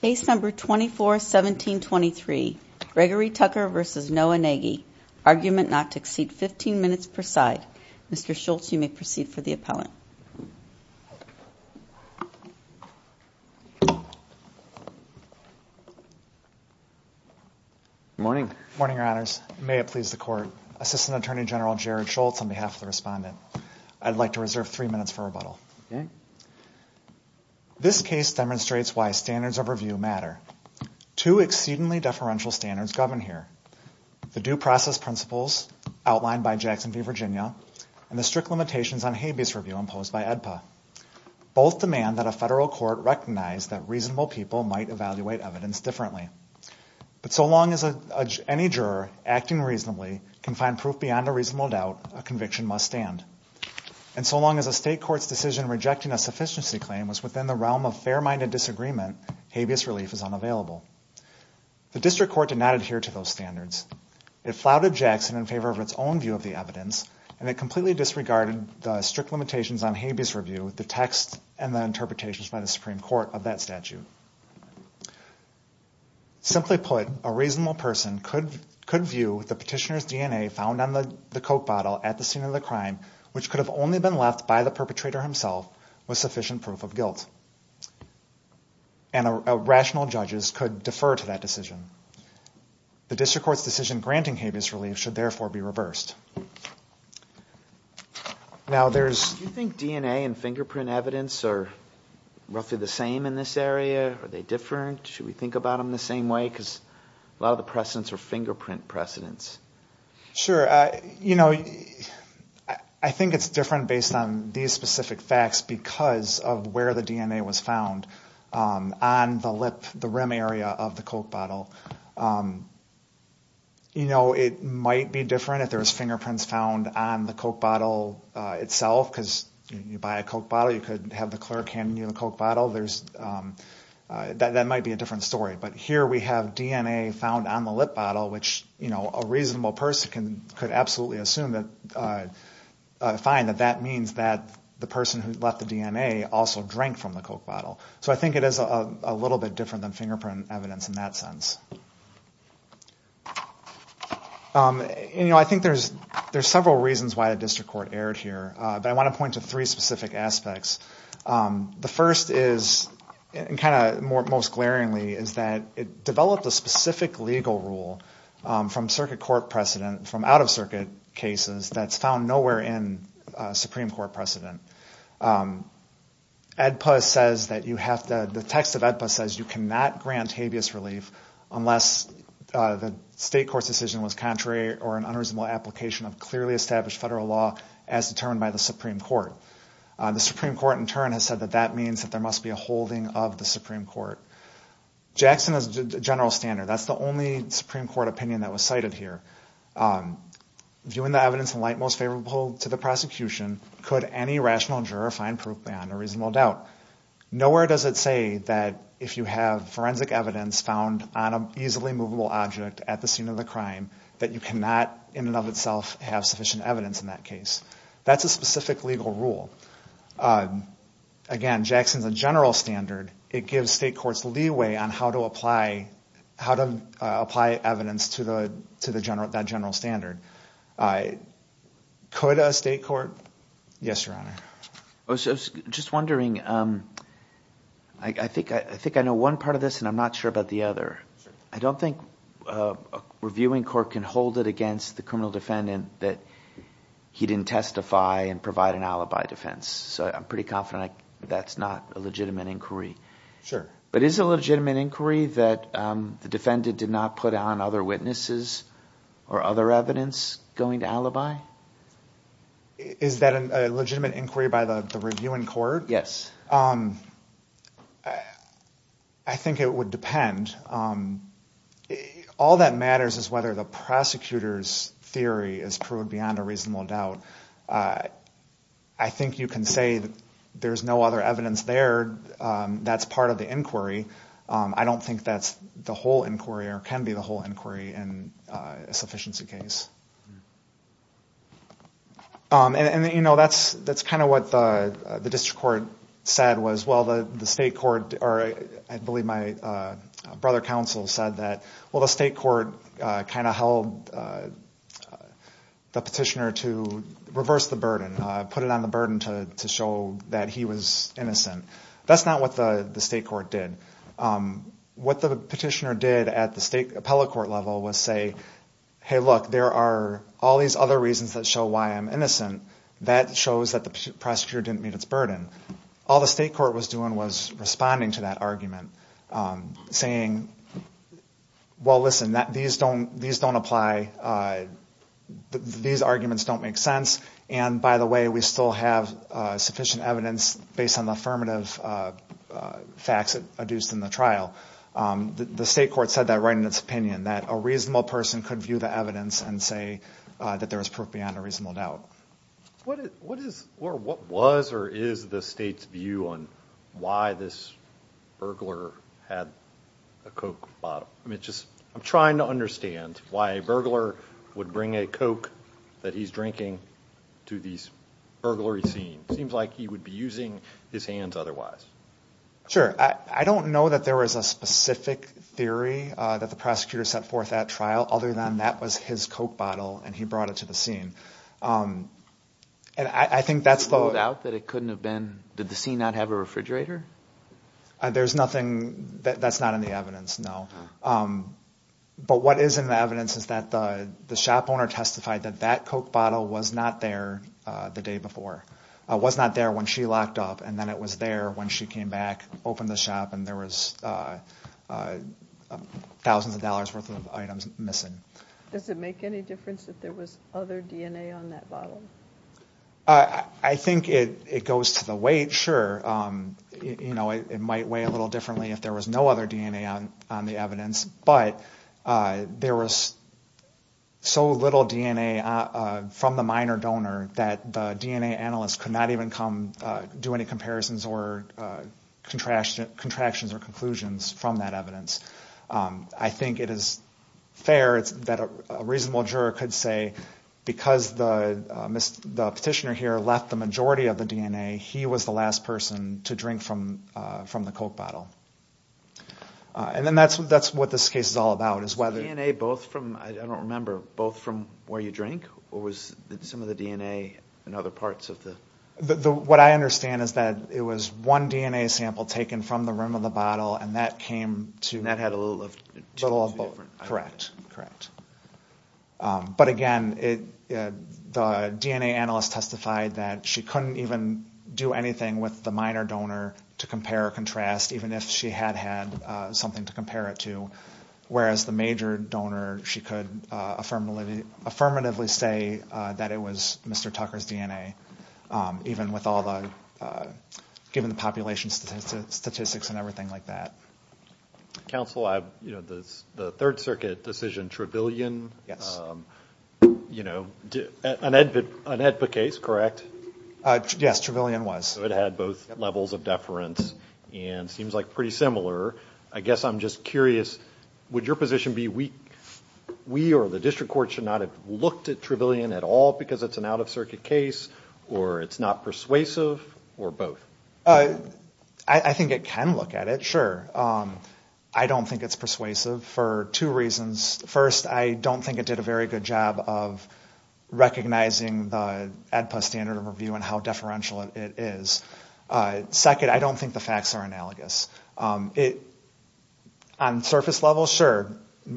Case number 241723, Gregory Tucker v. Noah Nagy. Argument not to exceed 15 minutes per side. Mr. Schultz, you may proceed for the appellant. Morning. Morning, your honors. May it please the court. Assistant Attorney General Jared Schultz on behalf of the respondent. I'd like to reserve three minutes for rebuttal. Okay. This case demonstrates why standards of review matter. Two exceedingly deferential standards govern here. The due process principles outlined by Jackson v. Virginia and the strict limitations on habeas review imposed by AEDPA. Both demand that a federal court recognize that reasonable people might evaluate evidence differently. But so long as any juror acting reasonably can find proof beyond a reasonable doubt, a state court's decision rejecting a sufficiency claim was within the realm of fair-minded disagreement, habeas relief is unavailable. The district court did not adhere to those standards. It flouted Jackson in favor of its own view of the evidence and it completely disregarded the strict limitations on habeas review with the text and the interpretations by the Supreme Court of that statute. Simply put, a reasonable person could could view the petitioner's DNA found on the the coke bottle at the scene of the crime which could have only been left by the perpetrator himself with sufficient proof of guilt. And a rational judges could defer to that decision. The district court's decision granting habeas relief should therefore be reversed. Now there's... Do you think DNA and fingerprint evidence are roughly the same in this area? Are they different? Should we think about them the same way? Because a lot of the precedents are fingerprint precedents. Sure, you know, I think it's different based on these specific facts because of where the DNA was found on the lip, the rim area of the coke bottle. You know, it might be different if there's fingerprints found on the coke bottle itself because you buy a coke bottle you could have the clerk handing you the coke bottle. There's... that might be a different story. But here we have DNA found on the lip bottle which, you know, a reasonable person can could absolutely assume that... find that that means that the person who left the DNA also drank from the coke bottle. So I think it is a little bit different than fingerprint evidence in that sense. You know, I think there's there's several reasons why the district court erred here. But I want to point to three specific aspects. The first is, and kind of most glaringly, is that it developed a specific legal rule from circuit court precedent, from out-of-circuit cases, that's found nowhere in Supreme Court precedent. ADPA says that you have to... the text of ADPA says you cannot grant habeas relief unless the state court's decision was contrary or an unreasonable application of clearly established federal law as determined by the Supreme Court. The Supreme Court in turn has said that that means that there must be a holding of the Supreme Court. Jackson is a general standard. That's the only Supreme Court opinion that was cited here. Viewing the evidence in light most favorable to the prosecution, could any rational juror find proof beyond a reasonable doubt? Nowhere does it say that if you have forensic evidence found on an easily movable object at the scene of the crime, that you cannot in and of itself have sufficient evidence in that case. That's a specific legal rule. Again, Jackson's a general standard. It gives state courts leeway on how to apply evidence to that general standard. Could a state court... Yes, Your Honor. I was just wondering, I think I know one part of this and I'm not sure about the other. I don't think a reviewing court can hold it against the criminal defendant that he didn't testify and provide an alibi defense. I'm pretty confident that's not a legitimate inquiry. Sure. Is it a legitimate inquiry that the defendant did not put on other witnesses or other evidence going to alibi? Is that a legitimate inquiry by the reviewing court? Yes. I think it would depend. All that matters is whether the prosecutor's theory is proved beyond a reasonable doubt. I think you can say that there's no other evidence there that's part of the inquiry. I don't think that's the whole inquiry or can be the whole inquiry in a sufficiency case. And you know, that's kind of what the district court said was, well, the state court or I believe my brother counsel said that, well, the state court kind of held the petitioner to reverse the burden, put it on the burden to show that he was innocent. That's not what the state court did. What the petitioner did at the state appellate court level was say, hey look, there are all these other reasons that show why I'm innocent. That shows that the prosecutor didn't meet its burden. All the state court was doing was responding to that argument, saying, well listen, these don't apply, these arguments don't make sense, and by the way, we still have sufficient evidence based on the affirmative facts adduced in the trial. The state court said that right in its opinion, that a reasonable person could view the evidence and say that there is proof beyond a reasonable doubt. What is or what was or is the state's view on why this burglar had a Coke bottle? I mean, just I'm trying to understand why a burglar would bring a Coke that he's drinking to these burglary scenes. It seems like he would be using his hands otherwise. Sure, I don't know that there is a specific theory that the prosecutor set forth at trial other than that was his Coke bottle and he brought it to the scene. And I think that's the... No doubt that it couldn't have been, did the scene not have a refrigerator? There's nothing, that's not in the evidence, no. But what is in the evidence is that the shop owner testified that that Coke bottle was not there the day before. It was not there when she locked up and then it was there when she came back, opened the shop and there was thousands of dollars worth of items missing. Does it make any difference if there was other DNA on that bottle? I think it goes to the weight, sure. You know, it might weigh a little differently if there was no other DNA on the evidence. But there was so little DNA from the minor donor that the DNA analysts could not even come do any comparisons or contractions or conclusions from that evidence. I think it is fair that a reasonable juror could say because the petitioner here left the majority of the DNA, he was the last person to drink from the Coke bottle. And then that's what this case is all about, is whether... DNA both from, I don't remember, both from where you drink or was some of the DNA in other parts of the... What I understand is that it was one DNA sample taken from the rim of the bottle and that came to... That had a little of... Correct, correct. But again, the DNA analyst testified that she couldn't even do anything with the minor donor to compare or contrast, even if she had had something to compare it to. Whereas the major donor, she could affirmatively say that it was Mr. Tucker's DNA. Even with all the... Given the population statistics and everything like that. Counsel, the Third Circuit decision, Trevelyan, you know, an AEDPA case, correct? Yes, Trevelyan was. It had both levels of deference and seems like pretty similar. I guess I'm just curious, would your position be we or the district court should not have looked at Trevelyan at all because it's an out-of-circuit case, or it's not persuasive, or both? I think it can look at it, sure. I don't think it's persuasive for two reasons. First, I don't think it did a very good job of recognizing the AEDPA standard of review and how deferential it is. Second, I don't think the facts are analogous. On surface level, sure,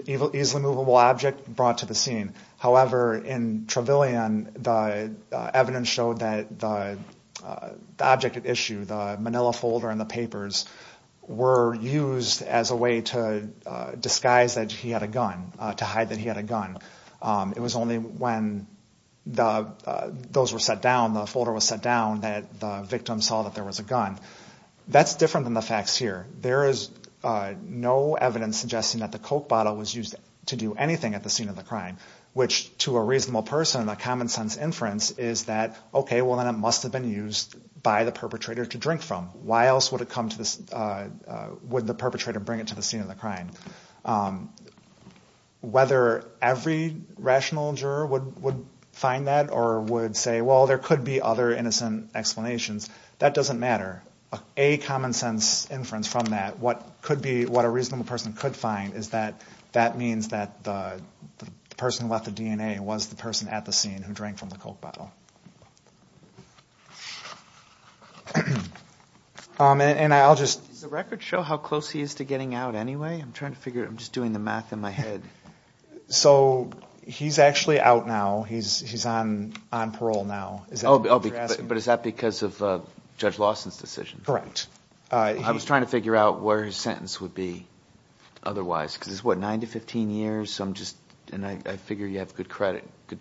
easily movable object brought to the scene. However, in Trevelyan, the evidence showed that the object at issue, the manila folder and the papers, were used as a way to disguise that he had a gun, to hide that he had a gun. It was only when those were set down, the folder was set down, that the victim saw that there was a gun. That's different than the facts here. There is no evidence suggesting that the Coke bottle was used to do anything at the scene of the crime, which, to a reasonable person, a common-sense inference is that, okay, well, then it must have been used by the perpetrator to drink from. Why else would the perpetrator bring it to the scene of the crime? Whether every rational juror would find that or would say, well, there could be other innocent explanations, that doesn't matter. A common-sense inference from that, what a reasonable person could find, is that that means that the person who left the DNA was the person at the scene who drank from the Coke bottle. Does the record show how close he is to getting out anyway? I'm trying to figure it out. I'm just doing the math in my head. So he's actually out now. He's on parole now. But is that because of Judge Lawson's decision? Correct. I was trying to figure out where his sentence would be otherwise, because it's, what, 9 to 15 years? I'm just, and I figure you have good credit, good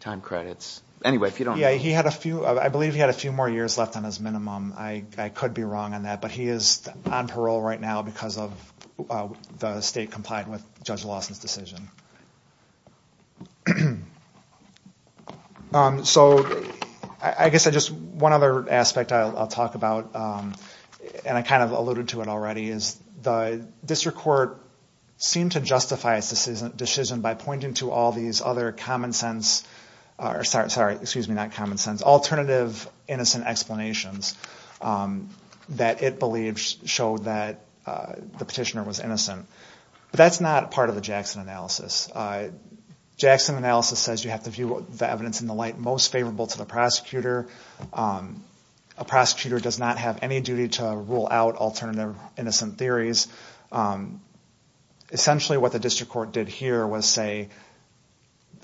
time credits. Anyway, if you don't... Yeah, he had a few, I believe he had a few more years left on his minimum. I could be wrong on that, but he is on parole right now because of the state complied with Judge Lawson's decision. So I guess I just, one other aspect I'll talk about, and I kind of alluded to it already, is the district court seemed to justify its decision by pointing to all these other common-sense, or sorry, excuse me, not common-sense, alternative innocent explanations that it believes showed that the petitioner was innocent. But that's not part of the Jackson analysis. Jackson analysis says you have to view the evidence in the light most favorable to the prosecutor. A prosecutor does not have any duty to rule out alternative innocent theories. Essentially what the district court did here was say,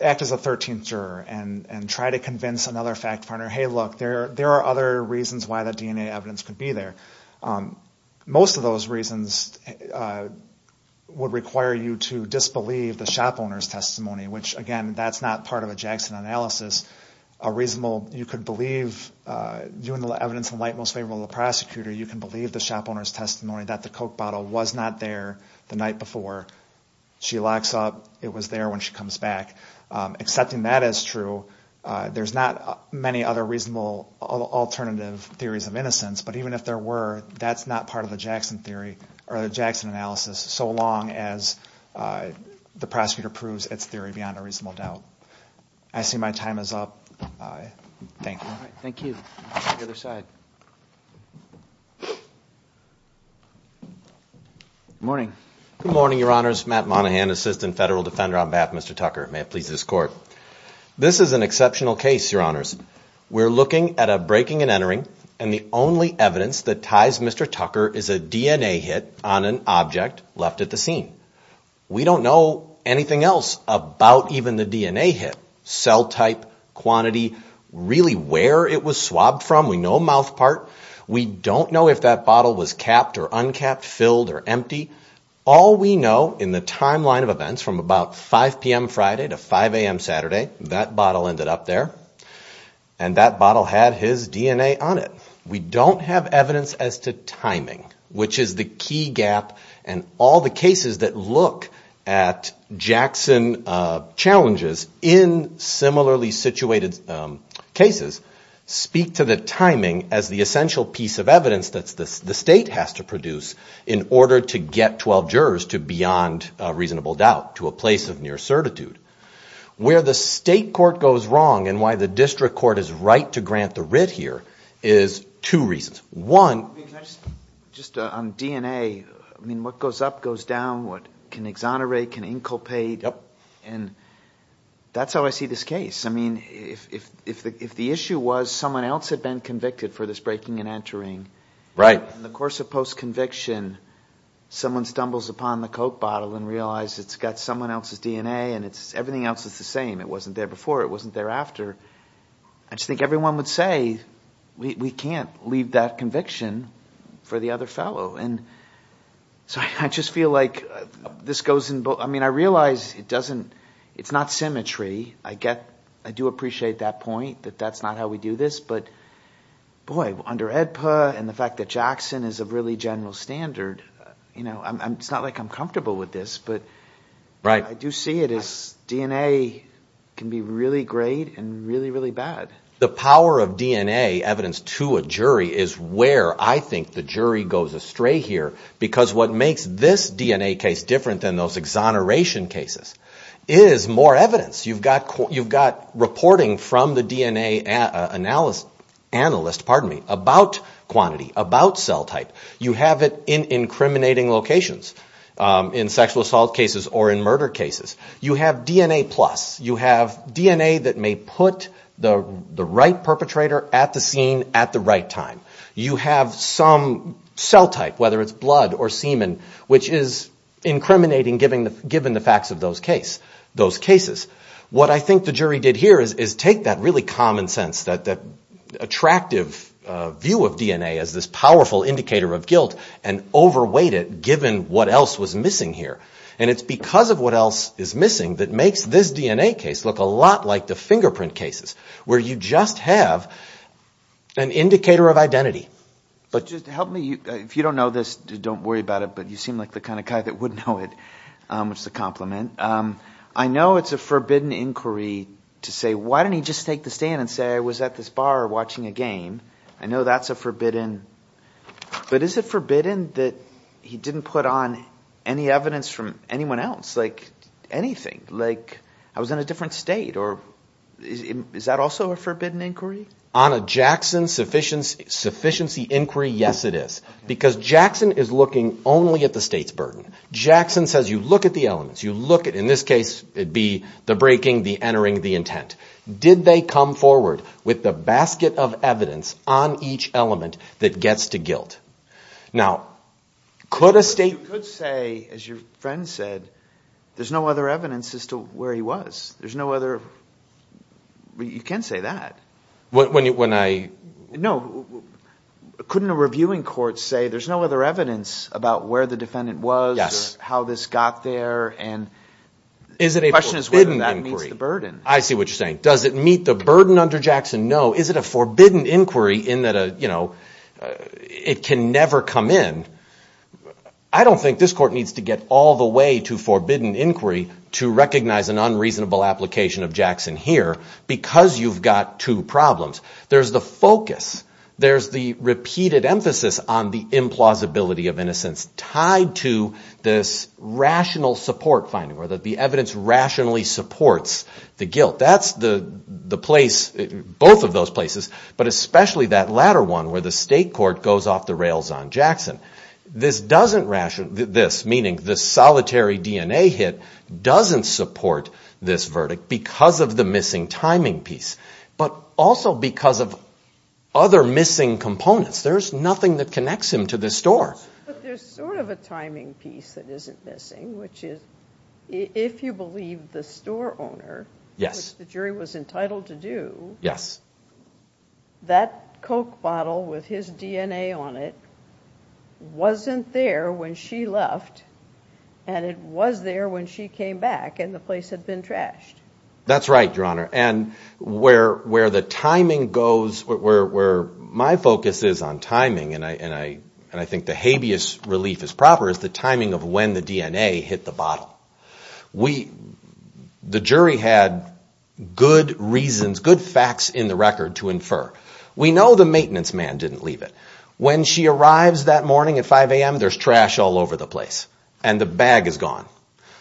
act as a 13th juror and try to convince another fact finder, hey look, there are other reasons why the DNA evidence could be there. Most of those reasons would require you to disbelieve the shop owner's testimony, which again, that's not part of a Jackson analysis. A reasonable, you could believe, viewing the evidence in light most favorable to the prosecutor, you can believe the shop owner's testimony that the coke bottle was not there the night before. She locks up, it was there when she comes back. Accepting that as true, there's not many other reasonable alternative theories of innocence, but even if there were, that's not part of the Jackson theory, or the Jackson analysis, so long as the prosecutor proves its theory beyond a reasonable doubt. I see my time is up. Thank you. Thank you. Good morning. Good morning, your honors. Matt Monahan, assistant federal defender on behalf of Mr. Tucker. May it please this court. This is an exceptional case, your honors. We're looking at a breaking and entering, and the only evidence that ties Mr. Tucker is a DNA hit on an object left at the scene. We don't know anything else about even the DNA hit. Cell type, quantity, really where it was swabbed from. We know mouth part. We don't know if that bottle was capped or uncapped, filled or empty. All we know in the timeline of events from about 5 p.m. Friday to 5 a.m. Saturday, that bottle ended up there, and that bottle had his DNA on it. We don't have evidence as to timing, which is the key gap, and all the cases that look at Jackson challenges in similarly situated cases speak to the timing as the essential piece of evidence that the state has to produce in order to get 12 jurors to beyond a reasonable doubt, to a place of near certitude. Where the state court goes wrong, and why the district court is right to grant the writ here, is two reasons. One, just on DNA, I mean, what goes up goes down, what can exonerate, can inculpate, and that's how I see this case. I mean, if the issue was someone else had been convicted for this breaking and entering, right, in the course of post-conviction, someone stumbles upon the coke bottle and realizes it's got someone else's DNA, and it's everything else is the same. It wasn't there before, it wasn't there after. I just think everyone would say, we can't leave that conviction for the other fellow, and so I just feel like this goes in both, I mean, I realize it doesn't, it's not symmetry. I get, I do appreciate that point, that that's not how we do this, but boy, under AEDPA and the fact that Jackson is a really general standard, you know, it's not like I'm comfortable with this, but I do see it as DNA can be really great and really, really bad. The power of DNA evidence to a jury is where I think the jury goes astray here, because what makes this DNA case different than those exoneration cases is more evidence. You've got, you've got reporting from the DNA analyst, analyst, pardon me, about quantity, about cell type. You have it in incriminating locations, in sexual assault cases or in murder cases. You have DNA plus. You have DNA that may put the right perpetrator at the scene at the right time. You have some cell type, whether it's blood or semen, which is incriminating given the facts of those case, those cases. What I think the jury did here is take that really common sense, that attractive view of DNA as this powerful indicator of guilt and overweight it given what else was missing here. And it's because of what else is missing that makes this DNA case look a lot like the fingerprint cases, where you just have an indicator of identity. But just help me, if you don't know this, don't worry about it, but you seem like the kind of guy that would know it, which is a compliment. I know it's a forbidden inquiry to say, why didn't he just take the stand and say, I was at this bar watching a game. I know that's a forbidden, but is it forbidden that he didn't put on any evidence from anyone else, like anything, like I was in a different state, or is that also a forbidden inquiry? On a Jackson sufficiency inquiry, yes it is. Because Jackson is looking only at the state's burden. Jackson says, you look at the elements, you look at, in this case, it'd be the breaking, the entering, the intent. Did they come forward with the basket of evidence on each element that gets to guilt? Now, could a state... You could say, as your friend said, there's no other evidence as to where he was. There's no other, you can't say that. When I... No, couldn't a reviewing court say, there's no other evidence about where the defendant was, how this got there, and the question is whether that meets the burden. I see what you're saying. Does it meet the burden under Jackson? No. Is it a forbidden inquiry in that it can never come in? I don't think this court needs to get all the way to forbidden inquiry to recognize an unreasonable application of Jackson here, because you've got two problems. There's the focus, there's the repeated emphasis on the implausibility of innocence, tied to this rational support finding, where the evidence rationally supports the guilt. That's the place, both of those places, but especially that latter one, where the state court goes off the rails on Jackson. This doesn't ration... This, meaning the solitary DNA hit, doesn't support this verdict because of the missing timing piece, but also because of other missing components. There's nothing that connects him to this store. But there's sort of a timing piece that isn't missing, which is, if you believe the store owner, which the jury was entitled to do, that Coke bottle with his DNA on it wasn't there when she left, and it was there when she came back, and the place had been trashed. That's right, Your Honor, and where the timing goes, where my focus is on timing, and I think the habeas relief is proper, is the timing of when the DNA hit the bottle. The jury had good reasons, good facts in the record to infer. We know the maintenance man didn't leave it. When she arrives that morning at 5 a.m., there's trash all over the place, and the bag is gone.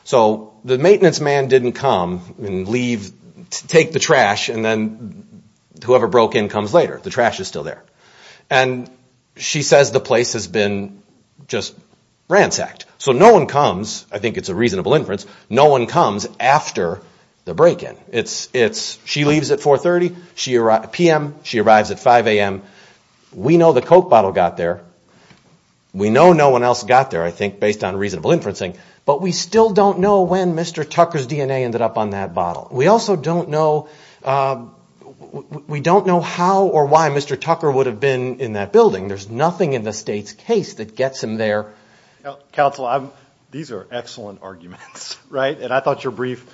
So the maintenance man didn't come and leave, take the trash, and then whoever broke in comes later. The trash is still there. And she says the place has been just ransacked. So no one comes, I think it's a reasonable inference, no one comes after the break-in. She leaves at 4.30 p.m., she arrives at 5 a.m. We know the Coke bottle got there. We know no one else got there, I think, based on reasonable inferencing, but we still don't know when Mr. Tucker's DNA ended up on that bottle. We also don't know how or why Mr. Tucker would have been in that building. There's nothing in the state's case that gets him there. Counsel, these are excellent arguments. I thought your brief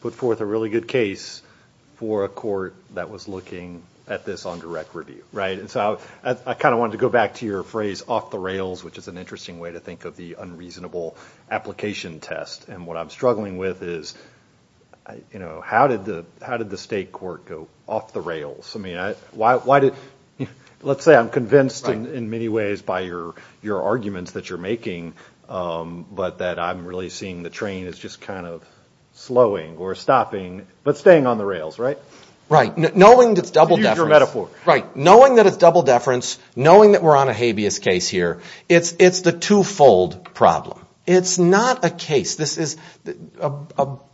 put forth a really good case for a court that was looking at this on direct review. I kind of wanted to go back to your phrase, off the rails, which is an interesting way to think of the unreasonable application test. And what I'm struggling with is, how did the state court go off the rails? Let's say I'm convinced in many ways by your arguments that you're making, but that I'm really seeing the train is just kind of slowing or stopping, but staying on the rails, right? Right. Knowing that it's double deference, knowing that we're on a habeas case here, it's the two-fold problem. It's not a case.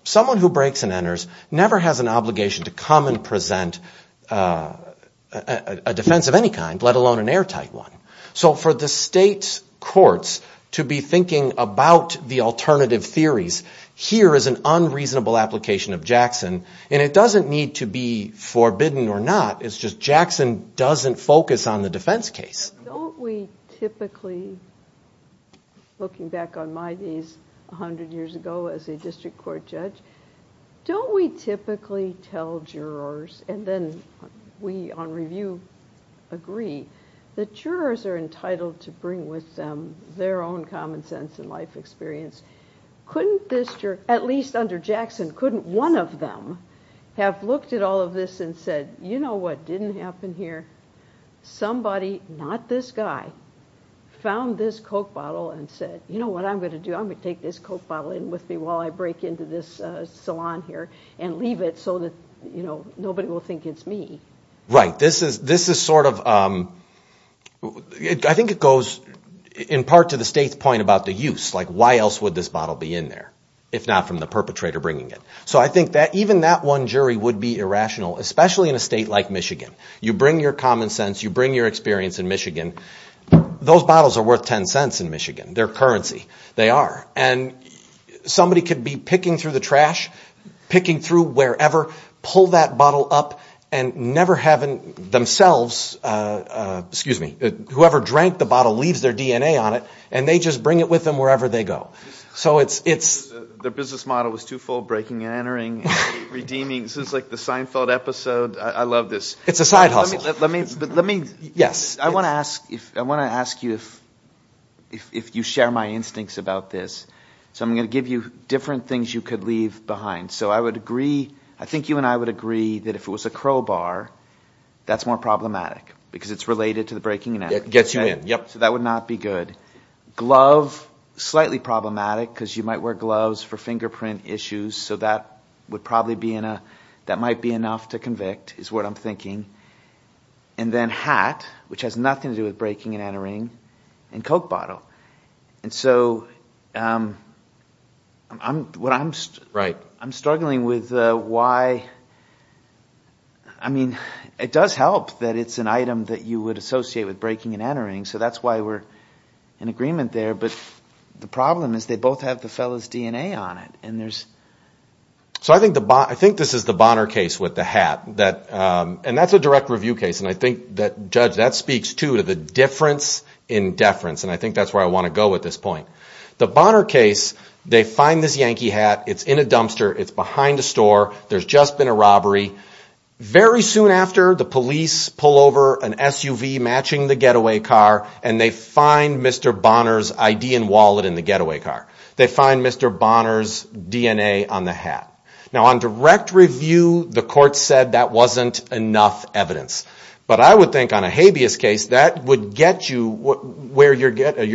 Someone who breaks and enters never has an obligation to come and present a defense of any kind, let alone an airtight one. So for the state courts to be thinking about the alternative theories, here is an unreasonable application of Jackson, and it doesn't need to be forbidden or not. It's just Jackson doesn't focus on the defense case. Don't we typically, looking back on my days 100 years ago as a district court judge, don't we typically tell jurors, and then we on review agree, that jurors are entitled to bring with them their own common sense and life experience? Couldn't this juror, at least under Jackson, couldn't one of them have looked at all of this and said, you know what didn't happen here? Somebody, not this guy, found this Coke bottle and said, you know what I'm going to do? I'm going to take this Coke bottle in with me while I break into this salon here and leave it so that nobody will think it's me. Right, this is sort of, I think it goes in part to the state's point about the use, like why else would this bottle be in there, if not from the perpetrator bringing it. So I think that even that one jury would be irrational, especially in a state like Michigan. You bring your common sense, you bring your experience in Michigan. Those bottles are worth 10 cents in Michigan. They're currency. They are. And somebody could be picking through the trash, picking through wherever, pull that bottle up and never having themselves, excuse me, whoever drank the bottle leaves their DNA on it and they just bring it with them wherever they go. Their business model was twofold, breaking and entering, redeeming. This is like the Seinfeld episode. I love this. It's a side hustle. Yes. I want to ask you if you share my instincts about this. So I'm going to give you different things you could leave behind. So I would agree, I think you and I would agree that if it was a crowbar, that's more problematic because it's related to the breaking and entering. It gets you in. Yep. So that would not be good. Glove, slightly problematic because you might wear gloves for fingerprint issues. So that would probably be in a – that might be enough to convict is what I'm thinking. And then hat, which has nothing to do with breaking and entering, and Coke bottle. And so I'm struggling with why – I mean, it does help that it's an item that you would associate with breaking and entering, so that's why we're in agreement there. But the problem is they both have the fellow's DNA on it. So I think this is the Bonner case with the hat. And that's a direct review case, and I think, Judge, that speaks to the difference in deference, and I think that's where I want to go with this point. The Bonner case, they find this Yankee hat. It's in a dumpster. It's behind a store. There's just been a robbery. Very soon after, the police pull over an SUV matching the getaway car, and they find Mr. Bonner's ID and wallet in the getaway car. They find Mr. Bonner's DNA on the hat. Now, on direct review, the court said that wasn't enough evidence. But I would think on a habeas case, that would get you where you're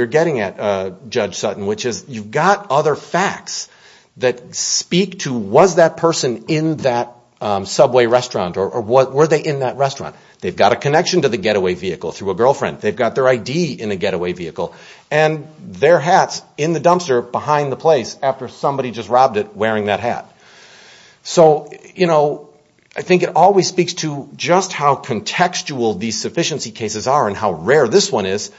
getting at, Judge Sutton, which is you've got other facts that speak to was that person in that Subway restaurant or were they in that restaurant. They've got a connection to the getaway vehicle through a girlfriend. They've got their ID in the getaway vehicle and their hats in the dumpster behind the place after somebody just robbed it wearing that hat. So, you know, I think it always speaks to just how contextual these sufficiency cases are and how rare this one is.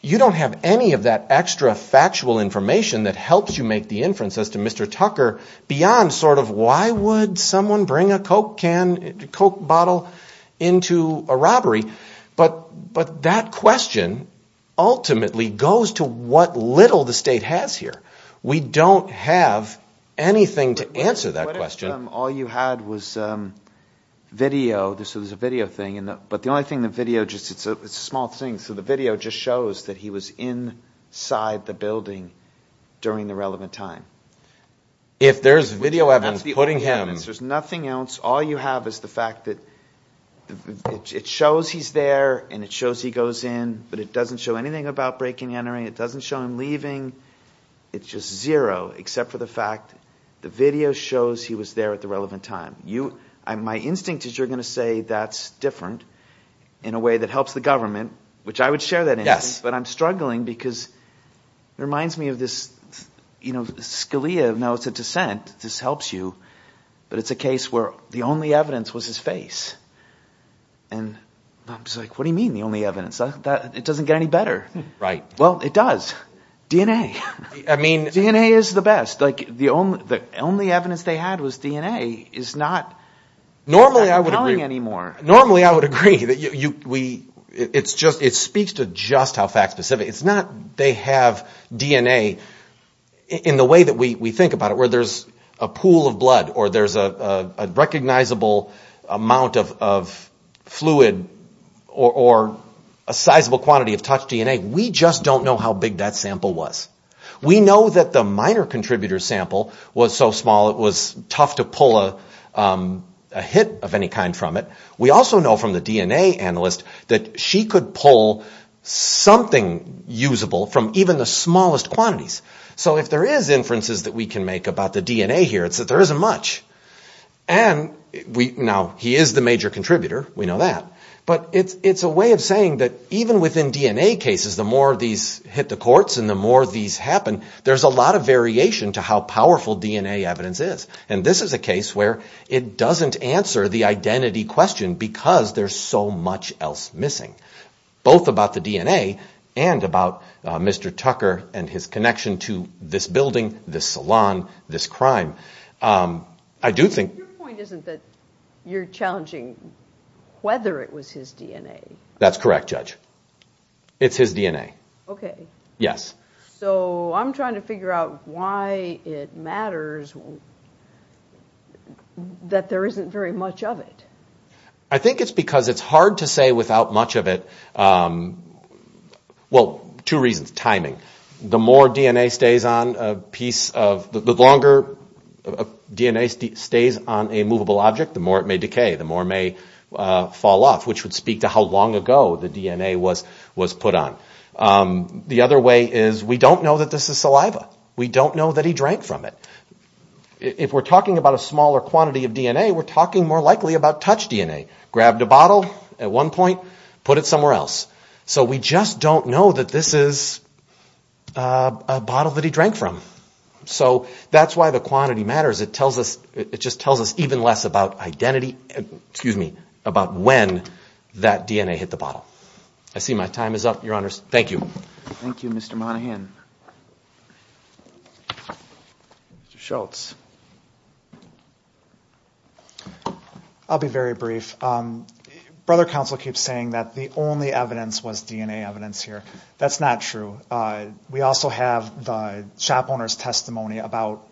You don't have any of that extra factual information that helps you make the inference as to Mr. Tucker beyond sort of why would someone bring a Coke bottle into a robbery? But that question ultimately goes to what little the state has here. We don't have anything to answer that question. All you had was video. This is a video thing. But the only thing the video just it's a small thing. So the video just shows that he was inside the building during the relevant time. If there's video evidence putting him. There's nothing else. All you have is the fact that it shows he's there and it shows he goes in. But it doesn't show anything about breaking entering. It doesn't show him leaving. It's just zero except for the fact the video shows he was there at the relevant time. You my instinct is you're going to say that's different in a way that helps the government, which I would share that. Yes, but I'm struggling because it reminds me of this, you know, Scalia. No, it's a dissent. This helps you. But it's a case where the only evidence was his face. And I'm just like, what do you mean the only evidence that it doesn't get any better? Right. Well, it does. DNA. I mean, DNA is the best. Like the only the only evidence they had was DNA is not normally I would agree anymore. Normally, I would agree that you we it's just it speaks to just how fact specific it's not. They have DNA in the way that we think about it, where there's a pool of blood or there's a recognizable amount of fluid or a sizable quantity of touch DNA. We just don't know how big that sample was. We know that the minor contributor sample was so small it was tough to pull a hit of any kind from it. We also know from the DNA analyst that she could pull something usable from even the smallest quantities. So if there is inferences that we can make about the DNA here, it's that there isn't much. And we know he is the major contributor. We know that. But it's a way of saying that even within DNA cases, the more these hit the courts and the more these happen, there's a lot of variation to how powerful DNA evidence is. And this is a case where it doesn't answer the identity question because there's so much else missing, both about the DNA and about Mr. Tucker and his connection to this building, this salon, this crime. Your point isn't that you're challenging whether it was his DNA. That's correct, Judge. It's his DNA. Okay. Yes. So I'm trying to figure out why it matters that there isn't very much of it. I think it's because it's hard to say without much of it. Well, two reasons. Timing. The longer DNA stays on a movable object, the more it may decay, the more it may fall off, which would speak to how long ago the DNA was put on. The other way is we don't know that this is saliva. We don't know that he drank from it. If we're talking about a smaller quantity of DNA, we're talking more likely about touch DNA. Grabbed a bottle at one point, put it somewhere else. So we just don't know that this is a bottle that he drank from. So that's why the quantity matters. It just tells us even less about identity, excuse me, about when that DNA hit the bottle. I see my time is up, Your Honors. Thank you. Thank you, Mr. Monahan. Mr. Schultz. I'll be very brief. Brother Counsel keeps saying that the only evidence was DNA evidence here. That's not true. We also have the shop owner's testimony about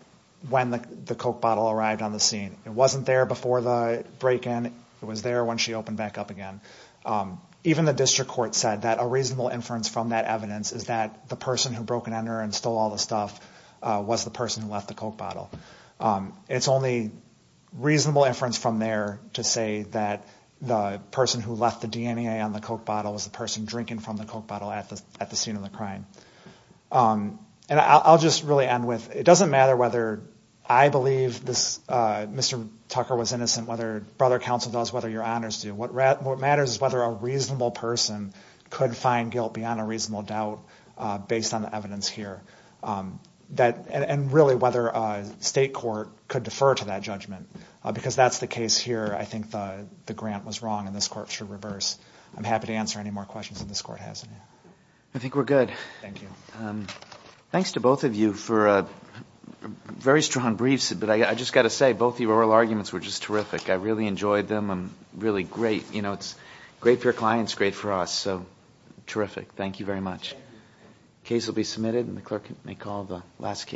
when the Coke bottle arrived on the scene. It wasn't there before the break-in. It was there when she opened back up again. Even the district court said that a reasonable inference from that evidence is that the person who broke in on her and stole all the stuff was the person who left the Coke bottle. It's only reasonable inference from there to say that the person who left the DNA on the Coke bottle was the person drinking from the Coke bottle at the scene of the crime. And I'll just really end with, it doesn't matter whether I believe Mr. Tucker was innocent, whether Brother Counsel does, whether Your Honors do. What matters is whether a reasonable person could find guilt beyond a reasonable doubt based on the evidence here. And really whether a state court could defer to that judgment. Because that's the case here. I think the grant was wrong and this court should reverse. I'm happy to answer any more questions that this court has. I think we're good. Thank you. Thanks to both of you for very strong briefs. But I just got to say, both of your oral arguments were just terrific. I really enjoyed them. Really great. It's great for your clients, great for us. So terrific. Thank you very much. The case will be submitted and the clerk may call the last case.